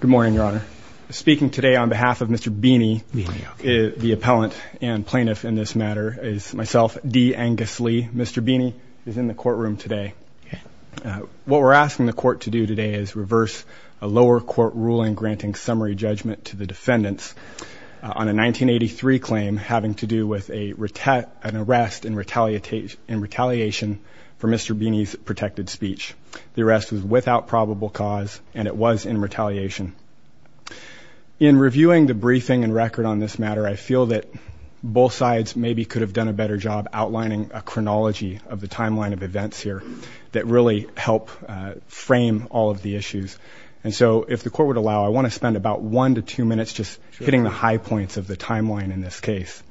Good morning, Your Honour. Speaking today on behalf of Mr. Bini, the appellant and plaintiff in this matter, is myself, D. Angus Lee. Mr. Bini is in the courtroom today. What we're asking the court to do today is reverse a lower court ruling granting summary judgment to the defendants on a 1983 claim having to do with an arrest in retaliation for Mr. Bini's protected speech. The arrest was without probable cause, and it was in retaliation. In reviewing the briefing and record on this matter, I feel that both sides maybe could have done a better job outlining a chronology of the timeline of events here that really help frame all of the issues. And so if the court would allow, I want to spend about one to two minutes just hitting the high points of the timeline in this case.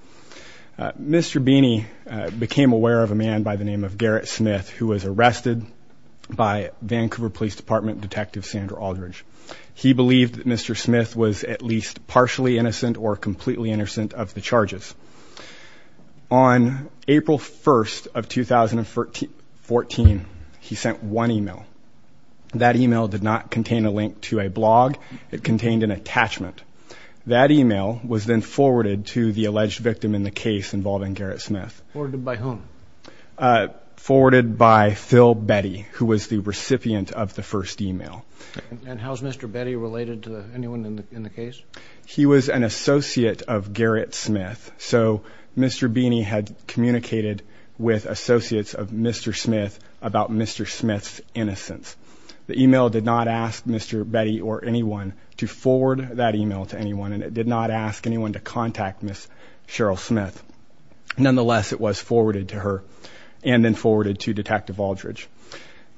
Mr. Bini became aware of a man by the name of Garrett Smith who was arrested by Vancouver Police Department Detective Sandra Aldridge. He believed that Mr. Smith was at least partially innocent or completely innocent of the charges. On April 1st of 2014, he sent one email. That email did not contain a link to a blog. It contained an attachment. That email was then forwarded to the alleged victim in the case involving Garrett Smith. Forwarded by whom? Forwarded by Phil Betty, who was the recipient of the first email. And how is Mr. Betty related to anyone in the case? He was an associate of Garrett Smith, so Mr. Bini had communicated with associates of Mr. Smith about Mr. Smith's innocence. The email did not ask Mr. Betty or anyone to forward that email to anyone, and it did not ask anyone to contact Ms. Cheryl Smith. Nonetheless, it was forwarded to her and then forwarded to Detective Aldridge.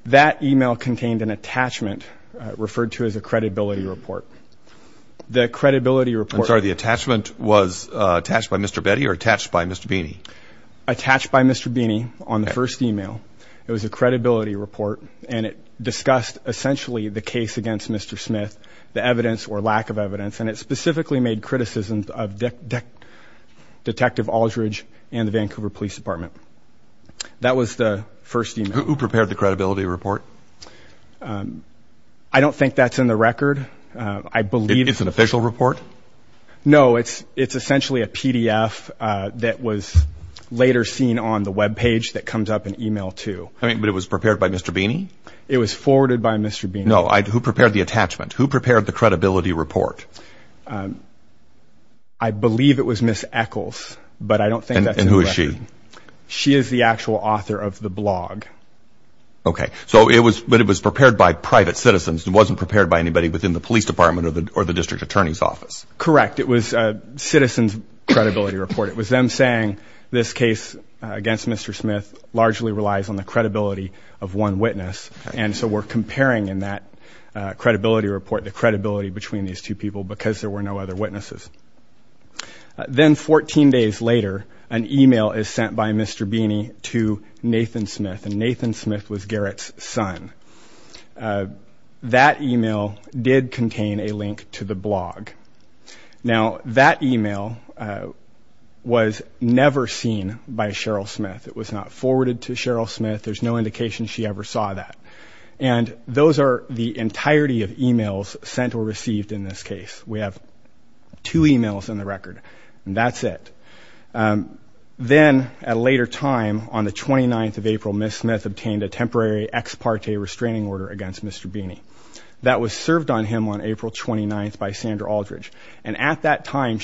That email contained an attachment referred to as a credibility report. The credibility report. I'm sorry, the attachment was attached by Mr. Betty or attached by Mr. Bini? Attached by Mr. Bini on the first email. It was a credibility report, and it discussed essentially the case against Mr. Smith, the evidence or lack of evidence, and it specifically made criticisms of Detective Aldridge and the Vancouver Police Department. That was the first email. Who prepared the credibility report? I don't think that's in the record. It's an official report? No, it's essentially a PDF that was later seen on the web page that comes up in email, too. But it was prepared by Mr. Bini? It was forwarded by Mr. Bini. No, who prepared the attachment? Who prepared the credibility report? I believe it was Ms. Eccles, but I don't think that's in the record. And who is she? She is the actual author of the blog. Okay. So it was prepared by private citizens. It wasn't prepared by anybody within the police department or the district attorney's office? Correct. It was a citizen's credibility report. It was them saying this case against Mr. Smith largely relies on the credibility of one witness, and so we're comparing in that credibility report the credibility between these two people because there were no other witnesses. Then 14 days later, an email is sent by Mr. Bini to Nathan Smith, and Nathan Smith was Garrett's son. That email did contain a link to the blog. Now, that email was never seen by Cheryl Smith. It was not forwarded to Cheryl Smith. There's no indication she ever saw that. And those are the entirety of emails sent or received in this case. We have two emails in the record, and that's it. Then at a later time, on the 29th of April, Ms. Smith obtained a temporary ex parte restraining order against Mr. Bini. That was served on him on April 29th by Sandra Aldridge, And the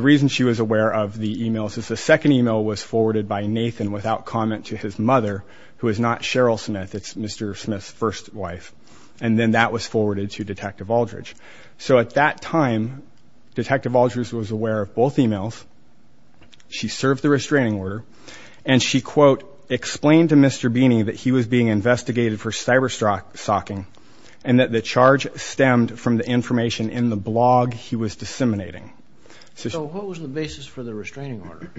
reason she was aware of the emails is the second email was forwarded by Nathan without comment to his mother, who is not Cheryl Smith. It's Mr. Smith's first wife, and then that was forwarded to Detective Aldridge. So at that time, Detective Aldridge was aware of both emails. She served the restraining order, and she, quote, explained to Mr. Bini that he was being investigated for cyber-stalking and that the charge stemmed from the information in the blog he was disseminating. So what was the basis for the restraining order?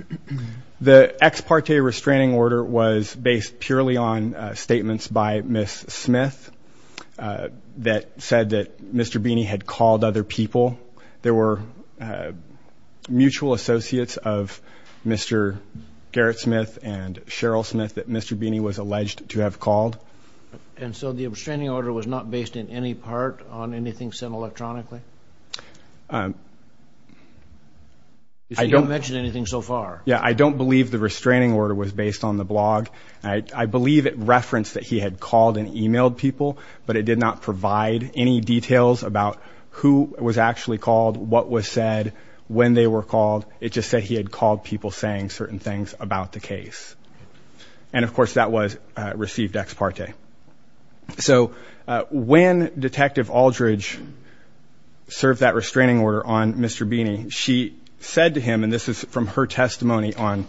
The ex parte restraining order was based purely on statements by Ms. Smith that said that Mr. Bini had called other people. There were mutual associates of Mr. Garrett Smith and Cheryl Smith that Mr. Bini was alleged to have called. And so the restraining order was not based in any part on anything sent electronically? You don't mention anything so far. Yeah, I don't believe the restraining order was based on the blog. I believe it referenced that he had called and emailed people, but it did not provide any details about who was actually called, what was said, when they were called. It just said he had called people saying certain things about the case. And, of course, that was received ex parte. So when Detective Aldridge served that restraining order on Mr. Bini, she said to him, and this is from her testimony on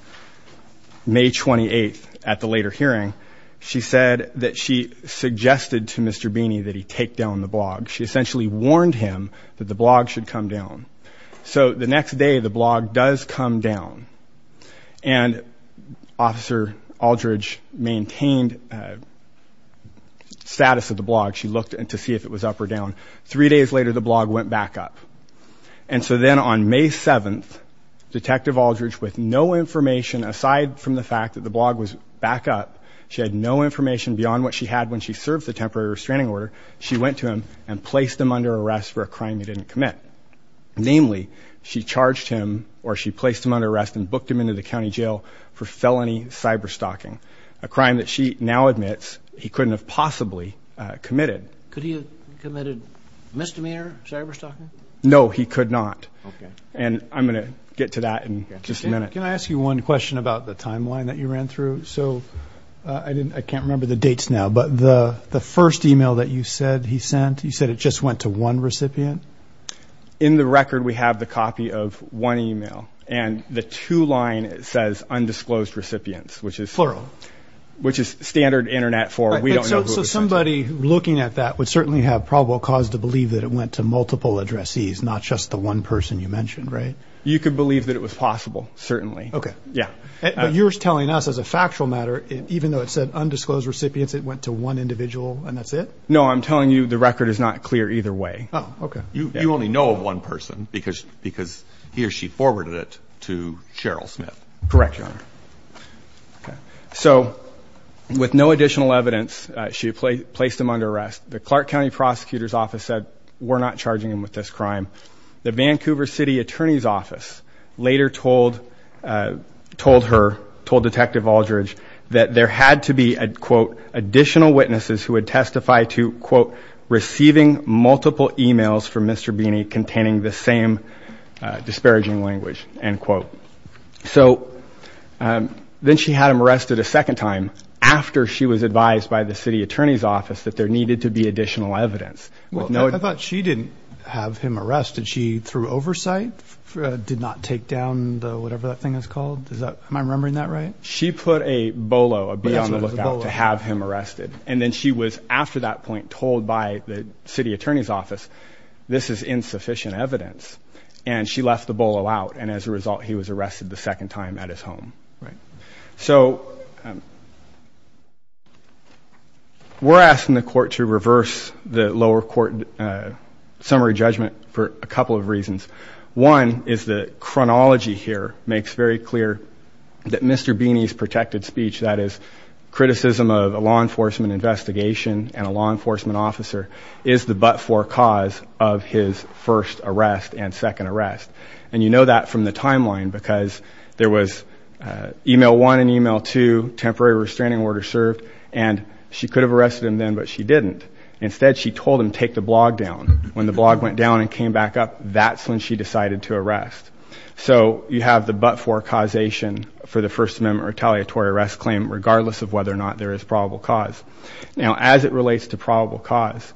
May 28th at the later hearing, she said that she suggested to Mr. Bini that he take down the blog. She essentially warned him that the blog should come down. So the next day, the blog does come down, and Officer Aldridge maintained status of the blog. She looked to see if it was up or down. Three days later, the blog went back up. And so then on May 7th, Detective Aldridge, with no information aside from the fact that the blog was back up, she had no information beyond what she had when she served the temporary restraining order, she went to him and placed him under arrest for a crime he didn't commit. Namely, she charged him or she placed him under arrest and booked him into the county jail for felony cyber-stalking, a crime that she now admits he couldn't have possibly committed. Could he have committed misdemeanor cyber-stalking? No, he could not. Okay. And I'm going to get to that in just a minute. Can I ask you one question about the timeline that you ran through? So I can't remember the dates now, but the first email that you said he sent, you said it just went to one recipient? In the record, we have the copy of one email, and the two line says undisclosed recipients, which is standard Internet for we don't know who it was sent to. So somebody looking at that would certainly have probable cause to believe that it went to multiple addressees, not just the one person you mentioned, right? You could believe that it was possible, certainly. Okay. Yeah. But you're telling us as a factual matter, even though it said undisclosed recipients, it went to one individual and that's it? No, I'm telling you the record is not clear either way. Oh, okay. You only know of one person because he or she forwarded it to Cheryl Smith. Correct, Your Honor. Okay. So with no additional evidence, she placed him under arrest. The Clark County Prosecutor's Office said we're not charging him with this crime. The Vancouver City Attorney's Office later told her, told Detective Aldridge, that there had to be, quote, additional witnesses who would testify to, quote, receiving multiple emails from Mr. Beeney containing the same disparaging language, end quote. So then she had him arrested a second time after she was advised by the city attorney's office that there needed to be additional evidence. I thought she didn't have him arrested. She threw oversight, did not take down the whatever that thing is called? Am I remembering that right? She put a BOLO, a be on the lookout, to have him arrested. And then she was, after that point, told by the city attorney's office, this is insufficient evidence, and she left the BOLO out. And as a result, he was arrested the second time at his home. Right. So we're asking the court to reverse the lower court summary judgment for a couple of reasons. One is the chronology here makes very clear that Mr. Beeney's protected speech, that is criticism of a law enforcement investigation and a law enforcement officer, is the but-for cause of his first arrest and second arrest. And you know that from the timeline because there was e-mail one and e-mail two, temporary restraining order served, and she could have arrested him then, but she didn't. Instead, she told him, take the blog down. When the blog went down and came back up, that's when she decided to arrest. So you have the but-for causation for the First Amendment retaliatory arrest claim, regardless of whether or not there is probable cause. Now, as it relates to probable cause,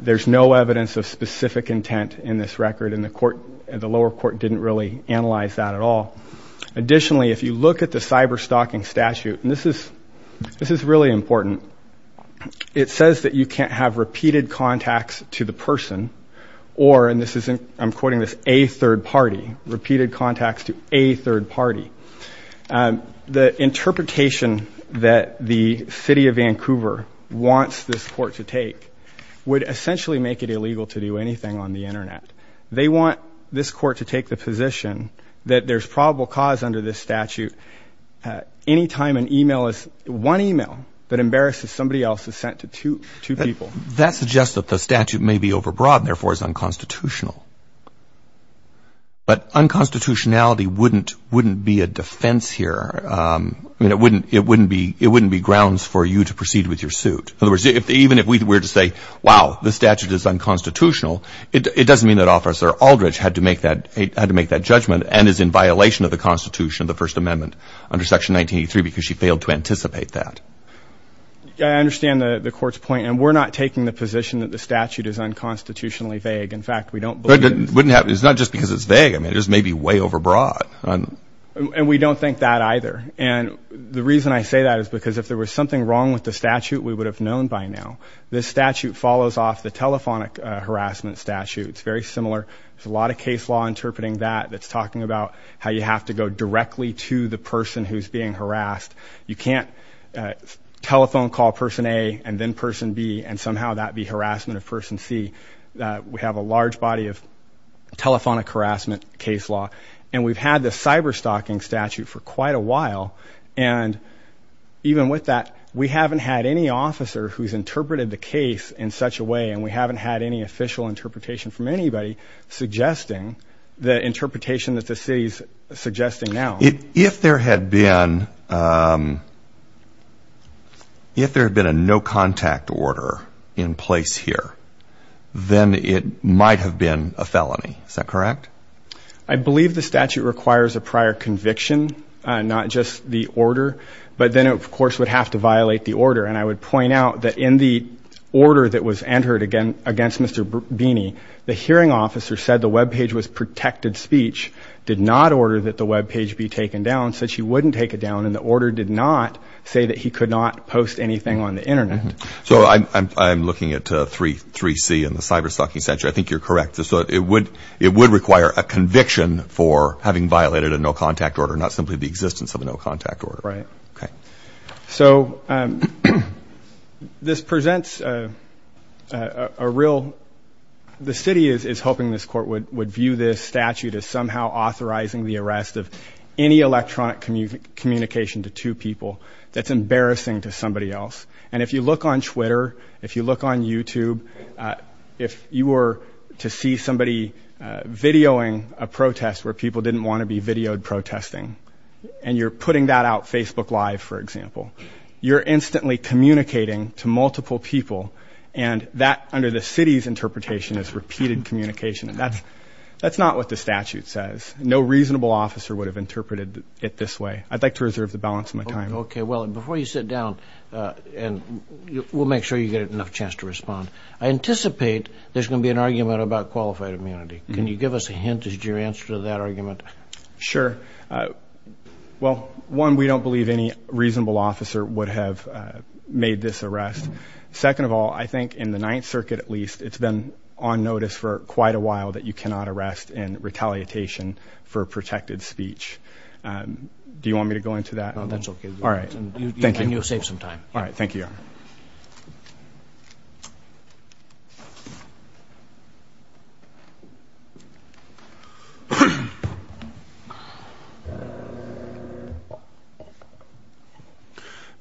there's no evidence of specific intent in this record, and the lower court didn't really analyze that at all. Additionally, if you look at the cyber-stalking statute, and this is really important, it says that you can't have repeated contacts to the person or, and I'm quoting this, a third party, repeated contacts to a third party. The interpretation that the city of Vancouver wants this court to take would essentially make it illegal to do anything on the Internet. They want this court to take the position that there's probable cause under this statute any time an e-mail is, one e-mail that embarrasses somebody else is sent to two people. That suggests that the statute may be overbroad and therefore is unconstitutional. But unconstitutionality wouldn't be a defense here. I mean, it wouldn't be grounds for you to proceed with your suit. In other words, even if we were to say, wow, the statute is unconstitutional, it doesn't mean that Officer Aldridge had to make that judgment and is in violation of the Constitution of the First Amendment under Section 1983 because she failed to anticipate that. I understand the court's point, and we're not taking the position that the statute is unconstitutionally vague. In fact, we don't believe it is. But it's not just because it's vague. I mean, it just may be way overbroad. And we don't think that either. And the reason I say that is because if there was something wrong with the statute, we would have known by now. This statute follows off the telephonic harassment statute. It's very similar. There's a lot of case law interpreting that that's talking about how you have to go directly to the person who's being harassed. You can't telephone call person A and then person B and somehow that be harassment of person C. We have a large body of telephonic harassment case law. And we've had this cyber-stalking statute for quite a while. And even with that, we haven't had any officer who's interpreted the case in such a way, and we haven't had any official interpretation from anybody suggesting the interpretation that the city is suggesting now. If there had been a no-contact order in place here, then it might have been a felony. Is that correct? I believe the statute requires a prior conviction, not just the order. But then it, of course, would have to violate the order. And I would point out that in the order that was entered against Mr. Beeney, the hearing officer said the Web page was protected speech, did not order that the Web page be taken down, said she wouldn't take it down, and the order did not say that he could not post anything on the Internet. So I'm looking at 3C in the cyber-stalking statute. I think you're correct. So it would require a conviction for having violated a no-contact order, not simply the existence of a no-contact order. Right. Okay. So this presents a real – the city is hoping this court would view this statute as somehow authorizing the arrest of any electronic communication to two people. That's embarrassing to somebody else. And if you look on Twitter, if you look on YouTube, if you were to see somebody videoing a protest where people didn't want to be videoed protesting and you're putting that out Facebook Live, for example, you're instantly communicating to multiple people, and that under the city's interpretation is repeated communication. That's not what the statute says. No reasonable officer would have interpreted it this way. I'd like to reserve the balance of my time. Okay. Well, before you sit down, and we'll make sure you get enough chance to respond, I anticipate there's going to be an argument about qualified immunity. Can you give us a hint as to your answer to that argument? Sure. Well, one, we don't believe any reasonable officer would have made this arrest. Second of all, I think in the Ninth Circuit at least, it's been on notice for quite a while that you cannot arrest in retaliation for protected speech. Do you want me to go into that? No, that's okay. All right. Thank you. And you'll save some time. All right. Thank you, Your Honor.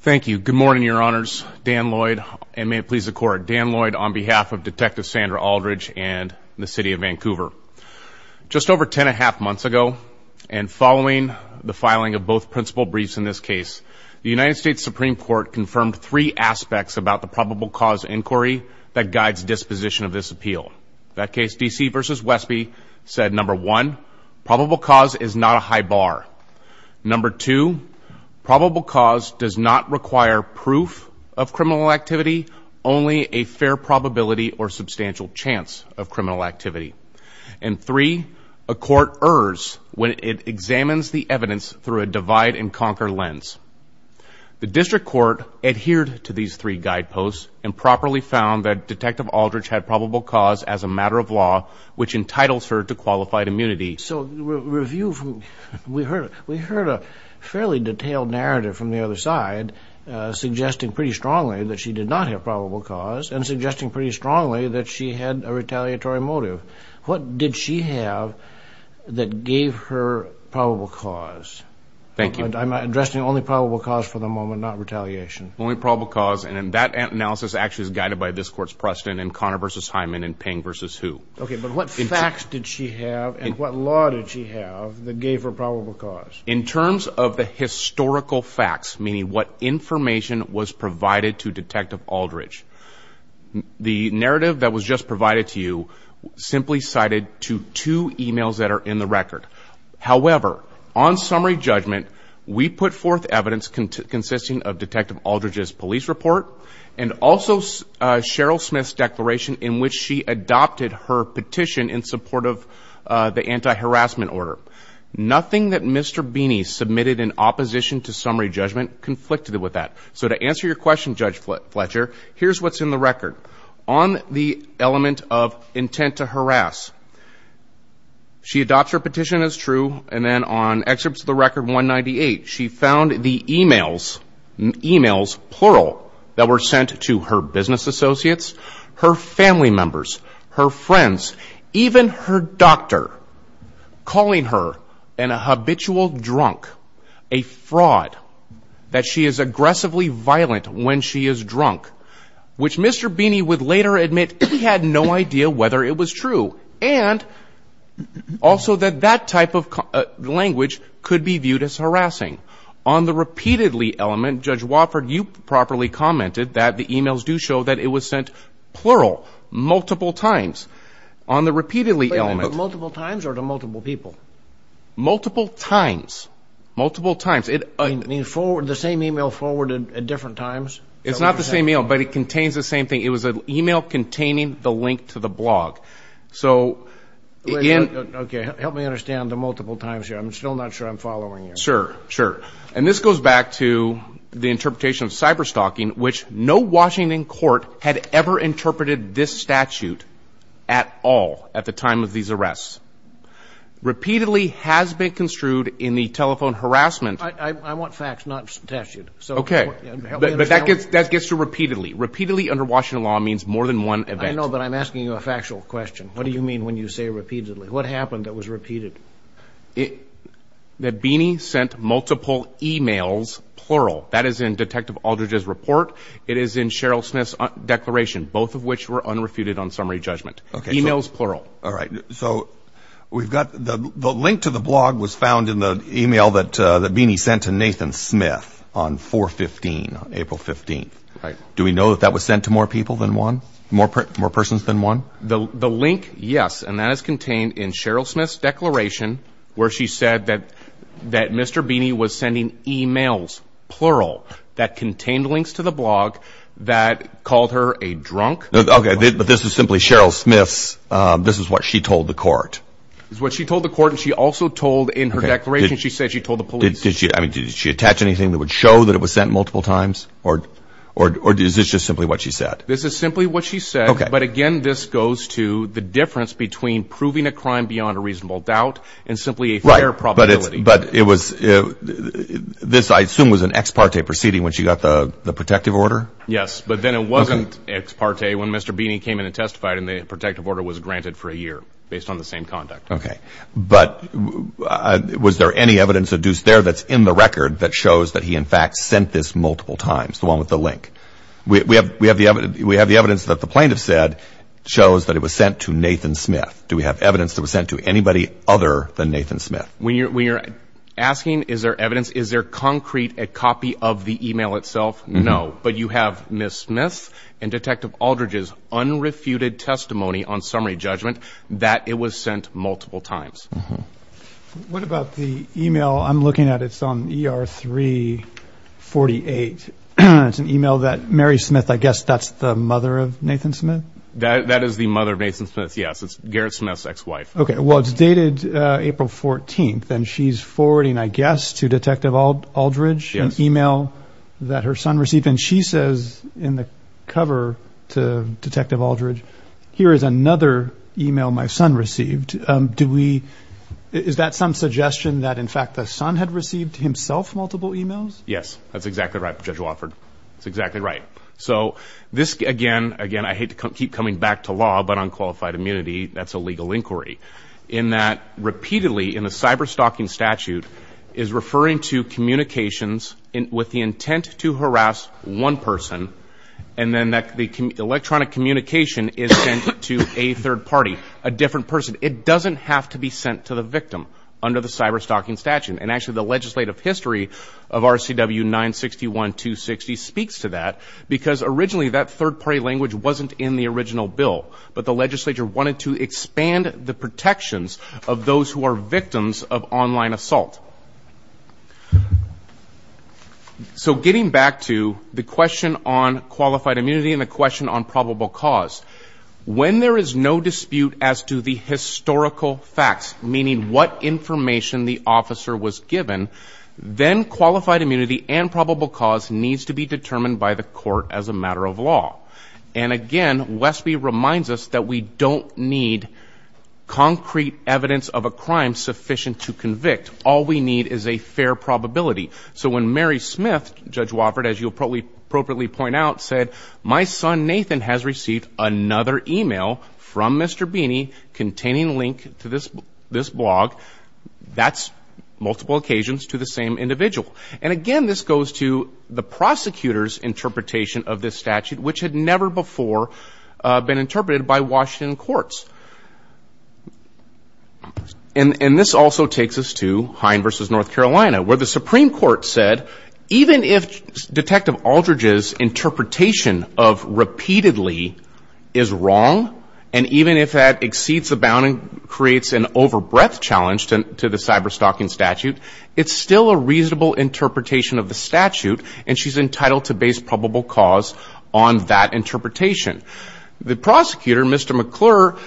Thank you. Good morning, Your Honors. Dan Lloyd, and may it please the Court, Dan Lloyd on behalf of Detective Sandra Aldridge and the City of Vancouver. Just over ten and a half months ago, and following the filing of both principal briefs in this case, the United States Supreme Court confirmed three aspects about the probable cause inquiry that guides disposition of this appeal. That case, D.C. v. Westby, said, number one, probable cause is not a high bar. Number two, probable cause does not require proof of criminal activity, only a fair probability or substantial chance of criminal activity. And three, a court errs when it examines the evidence through a divide-and-conquer lens. The District Court adhered to these three guideposts and properly found that Detective Aldridge had probable cause as a matter of law, which entitles her to qualified immunity. So we heard a fairly detailed narrative from the other side suggesting pretty strongly that she did not have probable cause and suggesting pretty strongly that she had a retaliatory motive. What did she have that gave her probable cause? Thank you. I'm addressing only probable cause for the moment, not retaliation. Only probable cause, and that analysis actually is guided by this Court's precedent in Connor v. Hyman and Ping v. Hugh. Okay, but what facts did she have and what law did she have that gave her probable cause? In terms of the historical facts, meaning what information was provided to Detective Aldridge, the narrative that was just provided to you simply cited to two e-mails that are in the record. However, on summary judgment, we put forth evidence consisting of Detective Aldridge's police report and also Cheryl Smith's declaration in which she adopted her petition in support of the anti-harassment order. Nothing that Mr. Beeney submitted in opposition to summary judgment conflicted with that. So to answer your question, Judge Fletcher, here's what's in the record. On the element of intent to harass, she adopts her petition as true, and then on excerpts of the record 198, she found the e-mails, plural, that were sent to her business associates, her family members, her friends, even her doctor, calling her a habitual drunk, a fraud, that she is aggressively violent when she is drunk, which Mr. Beeney would later admit he had no idea whether it was true. And also that that type of language could be viewed as harassing. On the repeatedly element, Judge Wofford, you properly commented that the e-mails do show that it was sent plural, multiple times on the repeatedly element. Multiple times or to multiple people? Multiple times. Multiple times. You mean the same e-mail forwarded at different times? It's not the same e-mail, but it contains the same thing. It was an e-mail containing the link to the blog. So again... Okay, help me understand the multiple times here. I'm still not sure I'm following you. Sure, sure. And this goes back to the interpretation of cyberstalking, which no Washington court had ever interpreted this statute at all at the time of these arrests. Repeatedly has been construed in the telephone harassment... I want facts, not statute. Okay, but that gets to repeatedly. Repeatedly under Washington law means more than one event. I know, but I'm asking you a factual question. What do you mean when you say repeatedly? What happened that was repeated? That Beeney sent multiple e-mails plural. That is in Detective Aldridge's report. It is in Cheryl Smith's declaration, both of which were unrefuted on summary judgment. E-mails plural. All right. So we've got the link to the blog was found in the e-mail that Beeney sent to Nathan Smith on 4-15, April 15th. Right. Do we know that that was sent to more people than one? More persons than one? The link, yes, and that is contained in Cheryl Smith's declaration where she said that Mr. Beeney was sending e-mails plural that contained links to the blog that called her a drunk. Okay, but this is simply Cheryl Smith's. This is what she told the court. This is what she told the court, and she also told in her declaration, she said she told the police. Did she attach anything that would show that it was sent multiple times, or is this just simply what she said? This is simply what she said, but, again, this goes to the difference between proving a crime beyond a reasonable doubt and simply a fair probability. But it was this, I assume, was an ex parte proceeding when she got the protective order? Yes, but then it wasn't ex parte when Mr. Beeney came in and testified, and the protective order was granted for a year based on the same conduct. Okay, but was there any evidence adduced there that's in the record that shows that he, in fact, sent this multiple times, the one with the link? We have the evidence that the plaintiff said shows that it was sent to Nathan Smith. Do we have evidence that it was sent to anybody other than Nathan Smith? When you're asking is there evidence, is there concrete a copy of the e-mail itself? No, but you have Ms. Smith and Detective Aldridge's unrefuted testimony on summary judgment that it was sent multiple times. What about the e-mail I'm looking at? It's on ER 348. It's an e-mail that Mary Smith, I guess that's the mother of Nathan Smith? That is the mother of Nathan Smith, yes. It's Garrett Smith's ex-wife. Okay, well, it's dated April 14th, and she's forwarding, I guess, to Detective Aldridge an e-mail that her son received, and she says in the cover to Detective Aldridge, here is another e-mail my son received. Is that some suggestion that, in fact, the son had received himself multiple e-mails? Yes, that's exactly right, Judge Wofford. That's exactly right. So this, again, I hate to keep coming back to law, but on qualified immunity, that's a legal inquiry, in that repeatedly in the cyberstalking statute is referring to communications with the intent to harass one person, and then the electronic communication is sent to a third party, a different person. It doesn't have to be sent to the victim under the cyberstalking statute, and actually the legislative history of RCW 961-260 speaks to that, because originally that third party language wasn't in the original bill, but the legislature wanted to expand the protections of those who are victims of online assault. So getting back to the question on qualified immunity and the question on probable cause, when there is no dispute as to the historical facts, meaning what information the officer was given, then qualified immunity and probable cause needs to be determined by the court as a matter of law. And, again, Westby reminds us that we don't need concrete evidence of a crime sufficient to convict. All we need is a fair probability. So when Mary Smith, Judge Wofford, as you'll probably appropriately point out, said, my son Nathan has received another email from Mr. Beeney containing a link to this blog, that's multiple occasions to the same individual. And, again, this goes to the prosecutor's interpretation of this statute, which had never before been interpreted by Washington courts. And this also takes us to Hine v. North Carolina, where the Supreme Court said, even if Detective Aldridge's interpretation of repeatedly is wrong, and even if that exceeds the bound and creates an overbreadth challenge to the cyberstalking statute, it's still a reasonable interpretation of the statute, and she's entitled to base probable cause on that interpretation. The prosecutor, Mr. McClure,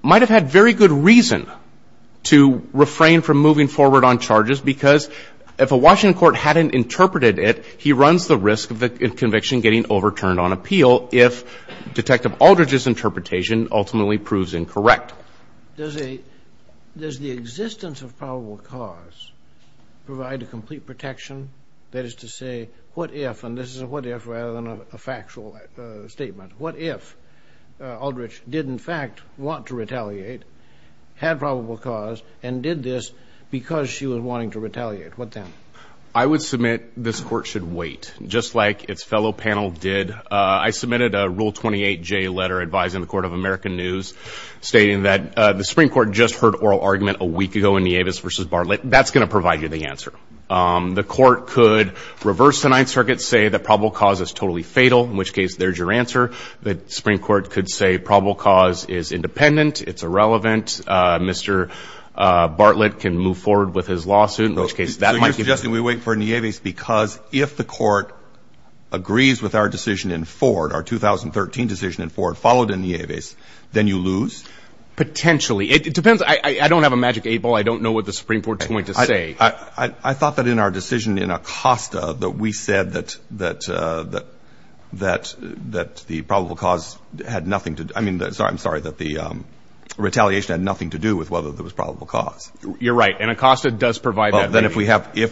might have had very good reason to refrain from moving forward on charges because if a Washington court hadn't interpreted it, he runs the risk of the conviction getting overturned on appeal if Detective Aldridge's interpretation ultimately proves incorrect. Does the existence of probable cause provide a complete protection? That is to say, what if, and this is a what if rather than a factual statement, what if Aldridge did, in fact, want to retaliate, had probable cause, and did this because she was wanting to retaliate? What then? I would submit this Court should wait, just like its fellow panel did. I submitted a Rule 28J letter advising the Court of American News, stating that the Supreme Court just heard oral argument a week ago in Nieves v. Bartlett. That's going to provide you the answer. The Court could reverse the Ninth Circuit, say that probable cause is totally fatal, in which case there's your answer. The Supreme Court could say probable cause is independent, it's irrelevant. Mr. Bartlett can move forward with his lawsuit, in which case that might give you. So you're suggesting we wait for Nieves because if the Court agrees with our decision in Ford, our 2013 decision in Ford, followed in Nieves, then you lose? Potentially. It depends. I don't have a magic eight ball. I don't know what the Supreme Court is going to say. I thought that in our decision in Acosta that we said that the probable cause had nothing to do, I mean, I'm sorry, that the retaliation had nothing to do with whether there was probable cause. You're right, and Acosta does provide that. Then if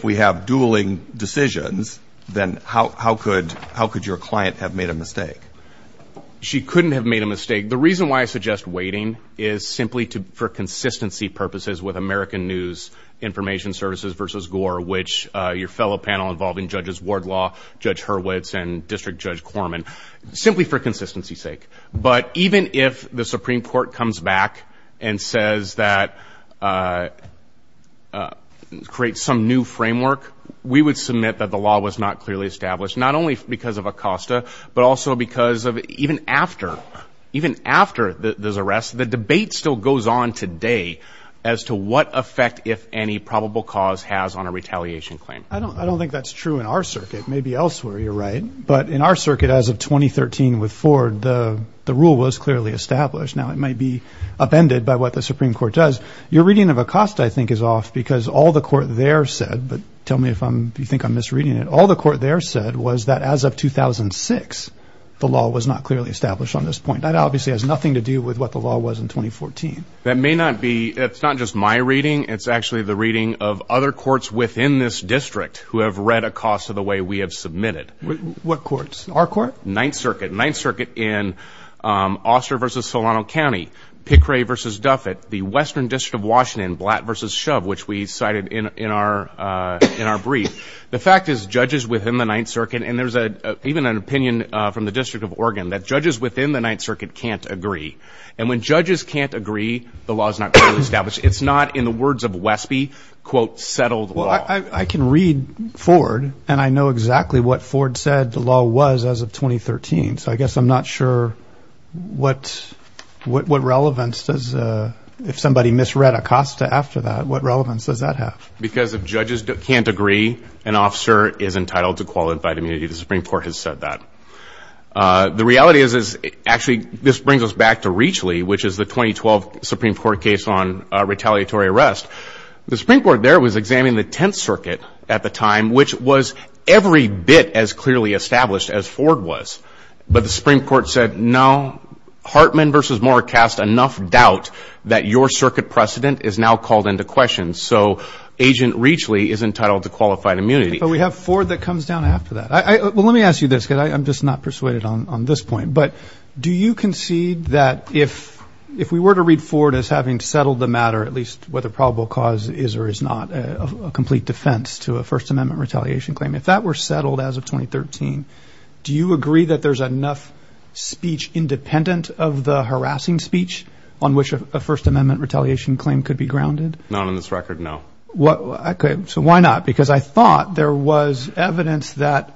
we have dueling decisions, then how could your client have made a mistake? She couldn't have made a mistake. The reason why I suggest waiting is simply for consistency purposes with American News Information Services versus Gore, which your fellow panel involving Judges Wardlaw, Judge Hurwitz, and District Judge Korman, simply for consistency's sake. But even if the Supreme Court comes back and says that create some new framework, we would submit that the law was not clearly established, not only because of Acosta, but also because even after those arrests, the debate still goes on today as to what effect, if any, probable cause has on a retaliation claim. I don't think that's true in our circuit. Maybe elsewhere you're right, but in our circuit as of 2013 with Ford, the rule was clearly established. Now, it might be upended by what the Supreme Court does. Your reading of Acosta, I think, is off because all the court there said, but tell me if you think I'm misreading it, but all the court there said was that as of 2006, the law was not clearly established on this point. That obviously has nothing to do with what the law was in 2014. That may not be. It's not just my reading. It's actually the reading of other courts within this district who have read Acosta the way we have submitted. What courts? Our court? Ninth Circuit. Ninth Circuit in Oster versus Solano County. Pickray versus Duffet. The Western District of Washington, Blatt versus Shove, which we cited in our brief. The fact is judges within the Ninth Circuit, and there's even an opinion from the District of Oregon, that judges within the Ninth Circuit can't agree, and when judges can't agree, the law is not clearly established. It's not, in the words of Wespe, quote, settled law. Well, I can read Ford, and I know exactly what Ford said the law was as of 2013, so I guess I'm not sure what relevance does, if somebody misread Acosta after that, what relevance does that have? Because if judges can't agree, an officer is entitled to qualified immunity. The Supreme Court has said that. The reality is, actually, this brings us back to Reachley, which is the 2012 Supreme Court case on retaliatory arrest. The Supreme Court there was examining the Tenth Circuit at the time, which was every bit as clearly established as Ford was, but the Supreme Court said, no, Hartman versus Moore cast enough doubt that your circuit precedent is now called into question. So Agent Reachley is entitled to qualified immunity. But we have Ford that comes down after that. Well, let me ask you this, because I'm just not persuaded on this point, but do you concede that if we were to read Ford as having settled the matter, at least whether probable cause is or is not a complete defense to a First Amendment retaliation claim, if that were settled as of 2013, do you agree that there's enough speech independent of the harassing speech on which a First Amendment retaliation claim could be grounded? Not on this record, no. So why not? Because I thought there was evidence that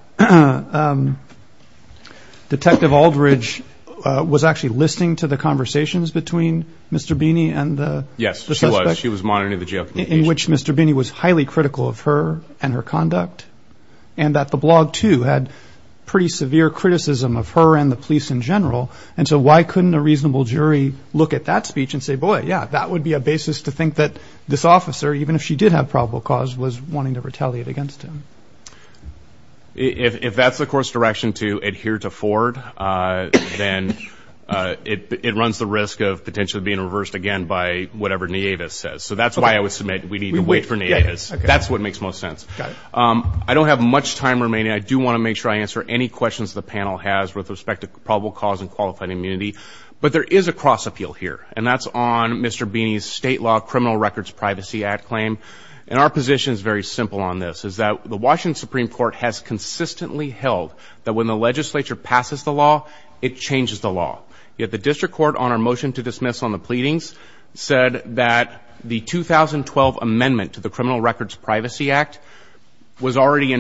Detective Aldridge was actually listening to the conversations between Mr. Beeney and the suspect. Yes, she was. She was monitoring the jail communications. In which Mr. Beeney was highly critical of her and her conduct, and that the blog, too, had pretty severe criticism of her and the police in general. And so why couldn't a reasonable jury look at that speech and say, boy, yeah, that would be a basis to think that this officer, even if she did have probable cause, was wanting to retaliate against him? If that's the court's direction to adhere to Ford, then it runs the risk of potentially being reversed again by whatever Nieves says. So that's why I would submit we need to wait for Nieves. That's what makes most sense. I don't have much time remaining. I do want to make sure I answer any questions the panel has with respect to probable cause and qualified immunity. But there is a cross-appeal here, and that's on Mr. Beeney's state law criminal records privacy act claim. And our position is very simple on this, is that the Washington Supreme Court has consistently held that when the legislature passes the law, it changes the law. Yet the district court, on our motion to dismiss on the pleadings, said that the 2012 amendment to the criminal records privacy act was already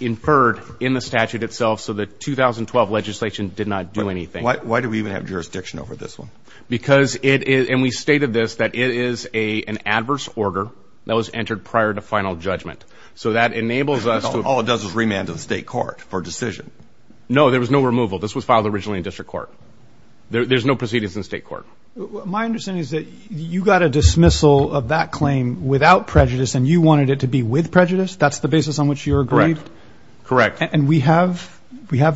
inferred in the statute itself, so the 2012 legislation did not do anything. Why do we even have jurisdiction over this one? Because it is, and we stated this, that it is an adverse order that was entered prior to final judgment. So that enables us to. All it does is remand to the state court for decision. No, there was no removal. This was filed originally in district court. There's no proceedings in state court. My understanding is that you got a dismissal of that claim without prejudice, and you wanted it to be with prejudice? That's the basis on which you agreed? Correct. And we have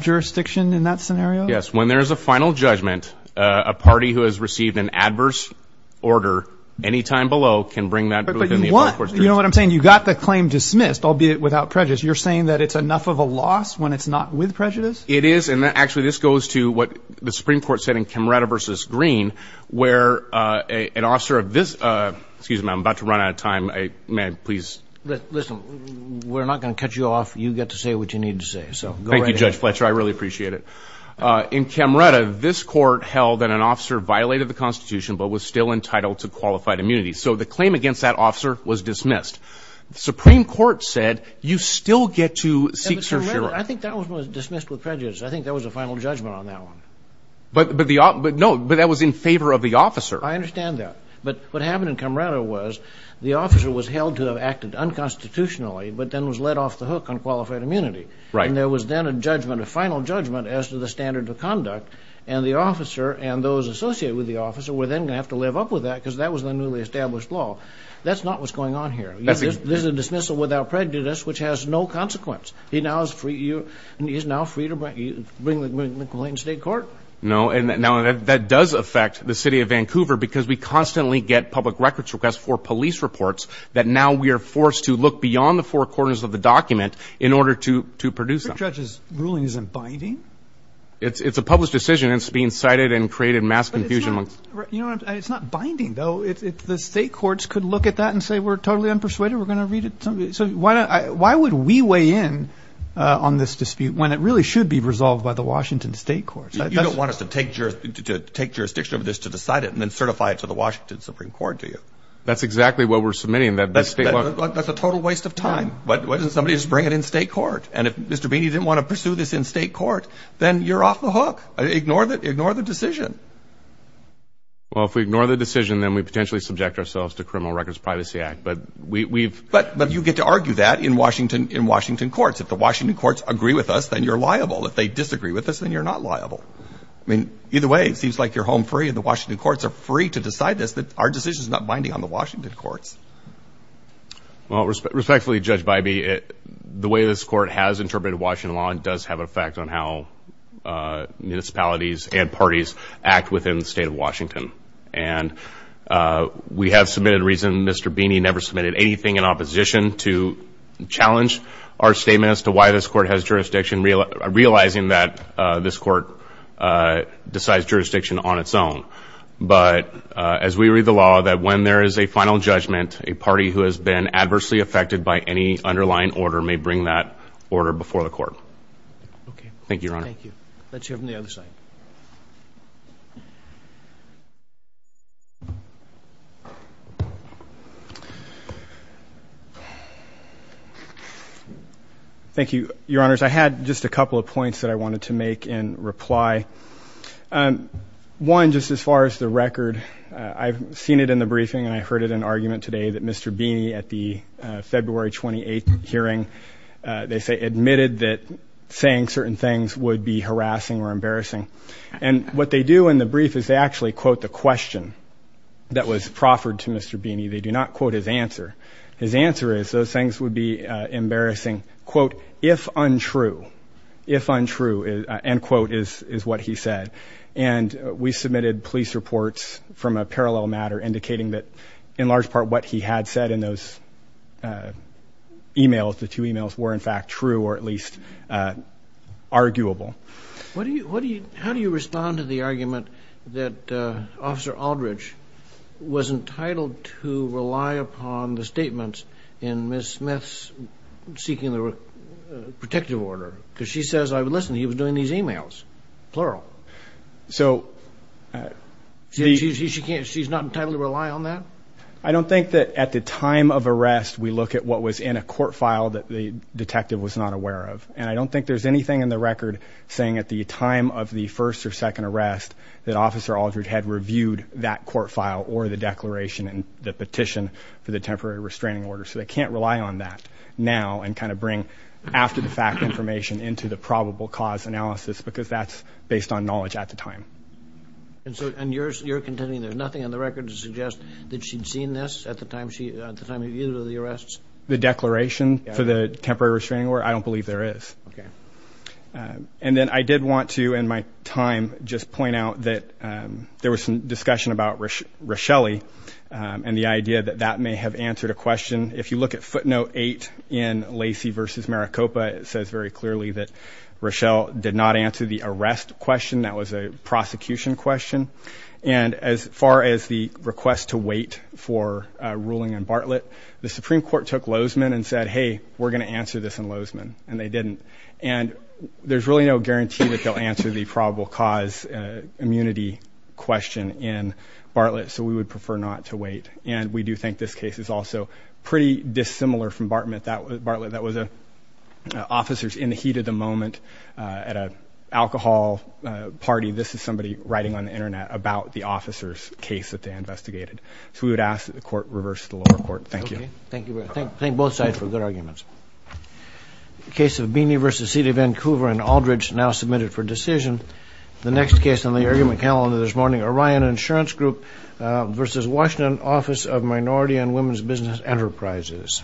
jurisdiction in that scenario? Yes. When there is a final judgment, a party who has received an adverse order any time below can bring that within the court's jurisdiction. You know what I'm saying? You got the claim dismissed, albeit without prejudice. You're saying that it's enough of a loss when it's not with prejudice? It is, and actually this goes to what the Supreme Court said in Camerata v. Green, where an officer of this – excuse me, I'm about to run out of time. May I please – Listen, we're not going to cut you off. You get to say what you need to say. Thank you, Judge Fletcher. I really appreciate it. In Camerata, this court held that an officer violated the Constitution but was still entitled to qualified immunity. So the claim against that officer was dismissed. The Supreme Court said you still get to seek – In Camerata, I think that was dismissed with prejudice. I think there was a final judgment on that one. No, but that was in favor of the officer. I understand that. But what happened in Camerata was the officer was held to have acted unconstitutionally but then was let off the hook on qualified immunity. And there was then a judgment, a final judgment as to the standard of conduct, and the officer and those associated with the officer were then going to have to live up with that because that was the newly established law. That's not what's going on here. This is a dismissal without prejudice, which has no consequence. He is now free to bring the complaint to state court. No, and that does affect the city of Vancouver because we constantly get public records requests for police reports that now we are forced to look beyond the four corners of the document in order to produce them. But, Judge, this ruling isn't binding? It's a published decision and it's being cited and created mass confusion. But it's not binding, though. If the state courts could look at that and say we're totally unpersuaded, we're going to read it. So why would we weigh in on this dispute when it really should be resolved by the Washington state courts? You don't want us to take jurisdiction over this to decide it and then certify it to the Washington Supreme Court, do you? That's exactly what we're submitting. That's a total waste of time. Why doesn't somebody just bring it in state court? And if Mr. Beeney didn't want to pursue this in state court, then you're off the hook. Ignore the decision. Well, if we ignore the decision, then we potentially subject ourselves to Criminal Records Privacy Act. But you get to argue that in Washington courts. If the Washington courts agree with us, then you're liable. If they disagree with us, then you're not liable. I mean, either way, it seems like you're home free and the Washington courts are free to decide this, that our decision is not binding on the Washington courts. Well, respectfully, Judge Bybee, the way this court has interpreted Washington law does have an effect on how municipalities and parties act within the state of Washington. And we have submitted a reason. Mr. Beeney never submitted anything in opposition to challenge our statement as to why this court has jurisdiction, realizing that this court decides jurisdiction on its own. But as we read the law, that when there is a final judgment, a party who has been adversely affected by any underlying order may bring that order before the court. Okay. Thank you, Your Honor. Thank you. Let's hear from the other side. Thank you, Your Honors. I had just a couple of points that I wanted to make in reply. One, just as far as the record, I've seen it in the briefing and I heard it in argument today that Mr. Beeney at the February 28th hearing, they say admitted that saying certain things would be harassing or embarrassing. And what they do in the brief is they actually quote the question that was proffered to Mr. Beeney. They do not quote his answer. His answer is those things would be embarrassing, quote, if untrue. If untrue, end quote, is what he said. And we submitted police reports from a parallel matter indicating that, in large part, what he had said in those e-mails, the two e-mails, were, in fact, true or at least arguable. How do you respond to the argument that Officer Aldridge was entitled to rely upon the statements in Ms. Smith's seeking the protective order? Because she says, listen, he was doing these e-mails, plural. She's not entitled to rely on that? I don't think that at the time of arrest we look at what was in a court file that the detective was not aware of. And I don't think there's anything in the record saying at the time of the first or second arrest that Officer Aldridge had reviewed that court file or the declaration and the petition for the temporary restraining order. So they can't rely on that now and kind of bring after-the-fact information into the probable cause analysis because that's based on knowledge at the time. And so you're contending there's nothing on the record to suggest that she'd seen this at the time of either of the arrests? The declaration for the temporary restraining order? I don't believe there is. And then I did want to, in my time, just point out that there was some discussion about Rochelle and the idea that that may have answered a question. If you look at footnote 8 in Lacey v. Maricopa, it says very clearly that Rochelle did not answer the arrest question. That was a prosecution question. And as far as the request to wait for a ruling in Bartlett, the Supreme Court took Lozeman and said, hey, we're going to answer this in Lozeman, and they didn't. And there's really no guarantee that they'll answer the probable cause immunity question in Bartlett, so we would prefer not to wait. And we do think this case is also pretty dissimilar from Bartlett. Bartlett, that was officers in the heat of the moment at an alcohol party. This is somebody writing on the Internet about the officer's case that they investigated. So we would ask that the Court reverse the lower court. Thank you. Thank both sides for good arguments. The case of Beeney v. City of Vancouver and Aldridge now submitted for decision. The next case on the argument calendar this morning, Orion Insurance Group v. Washington Office of Minority and Women's Business Enterprises.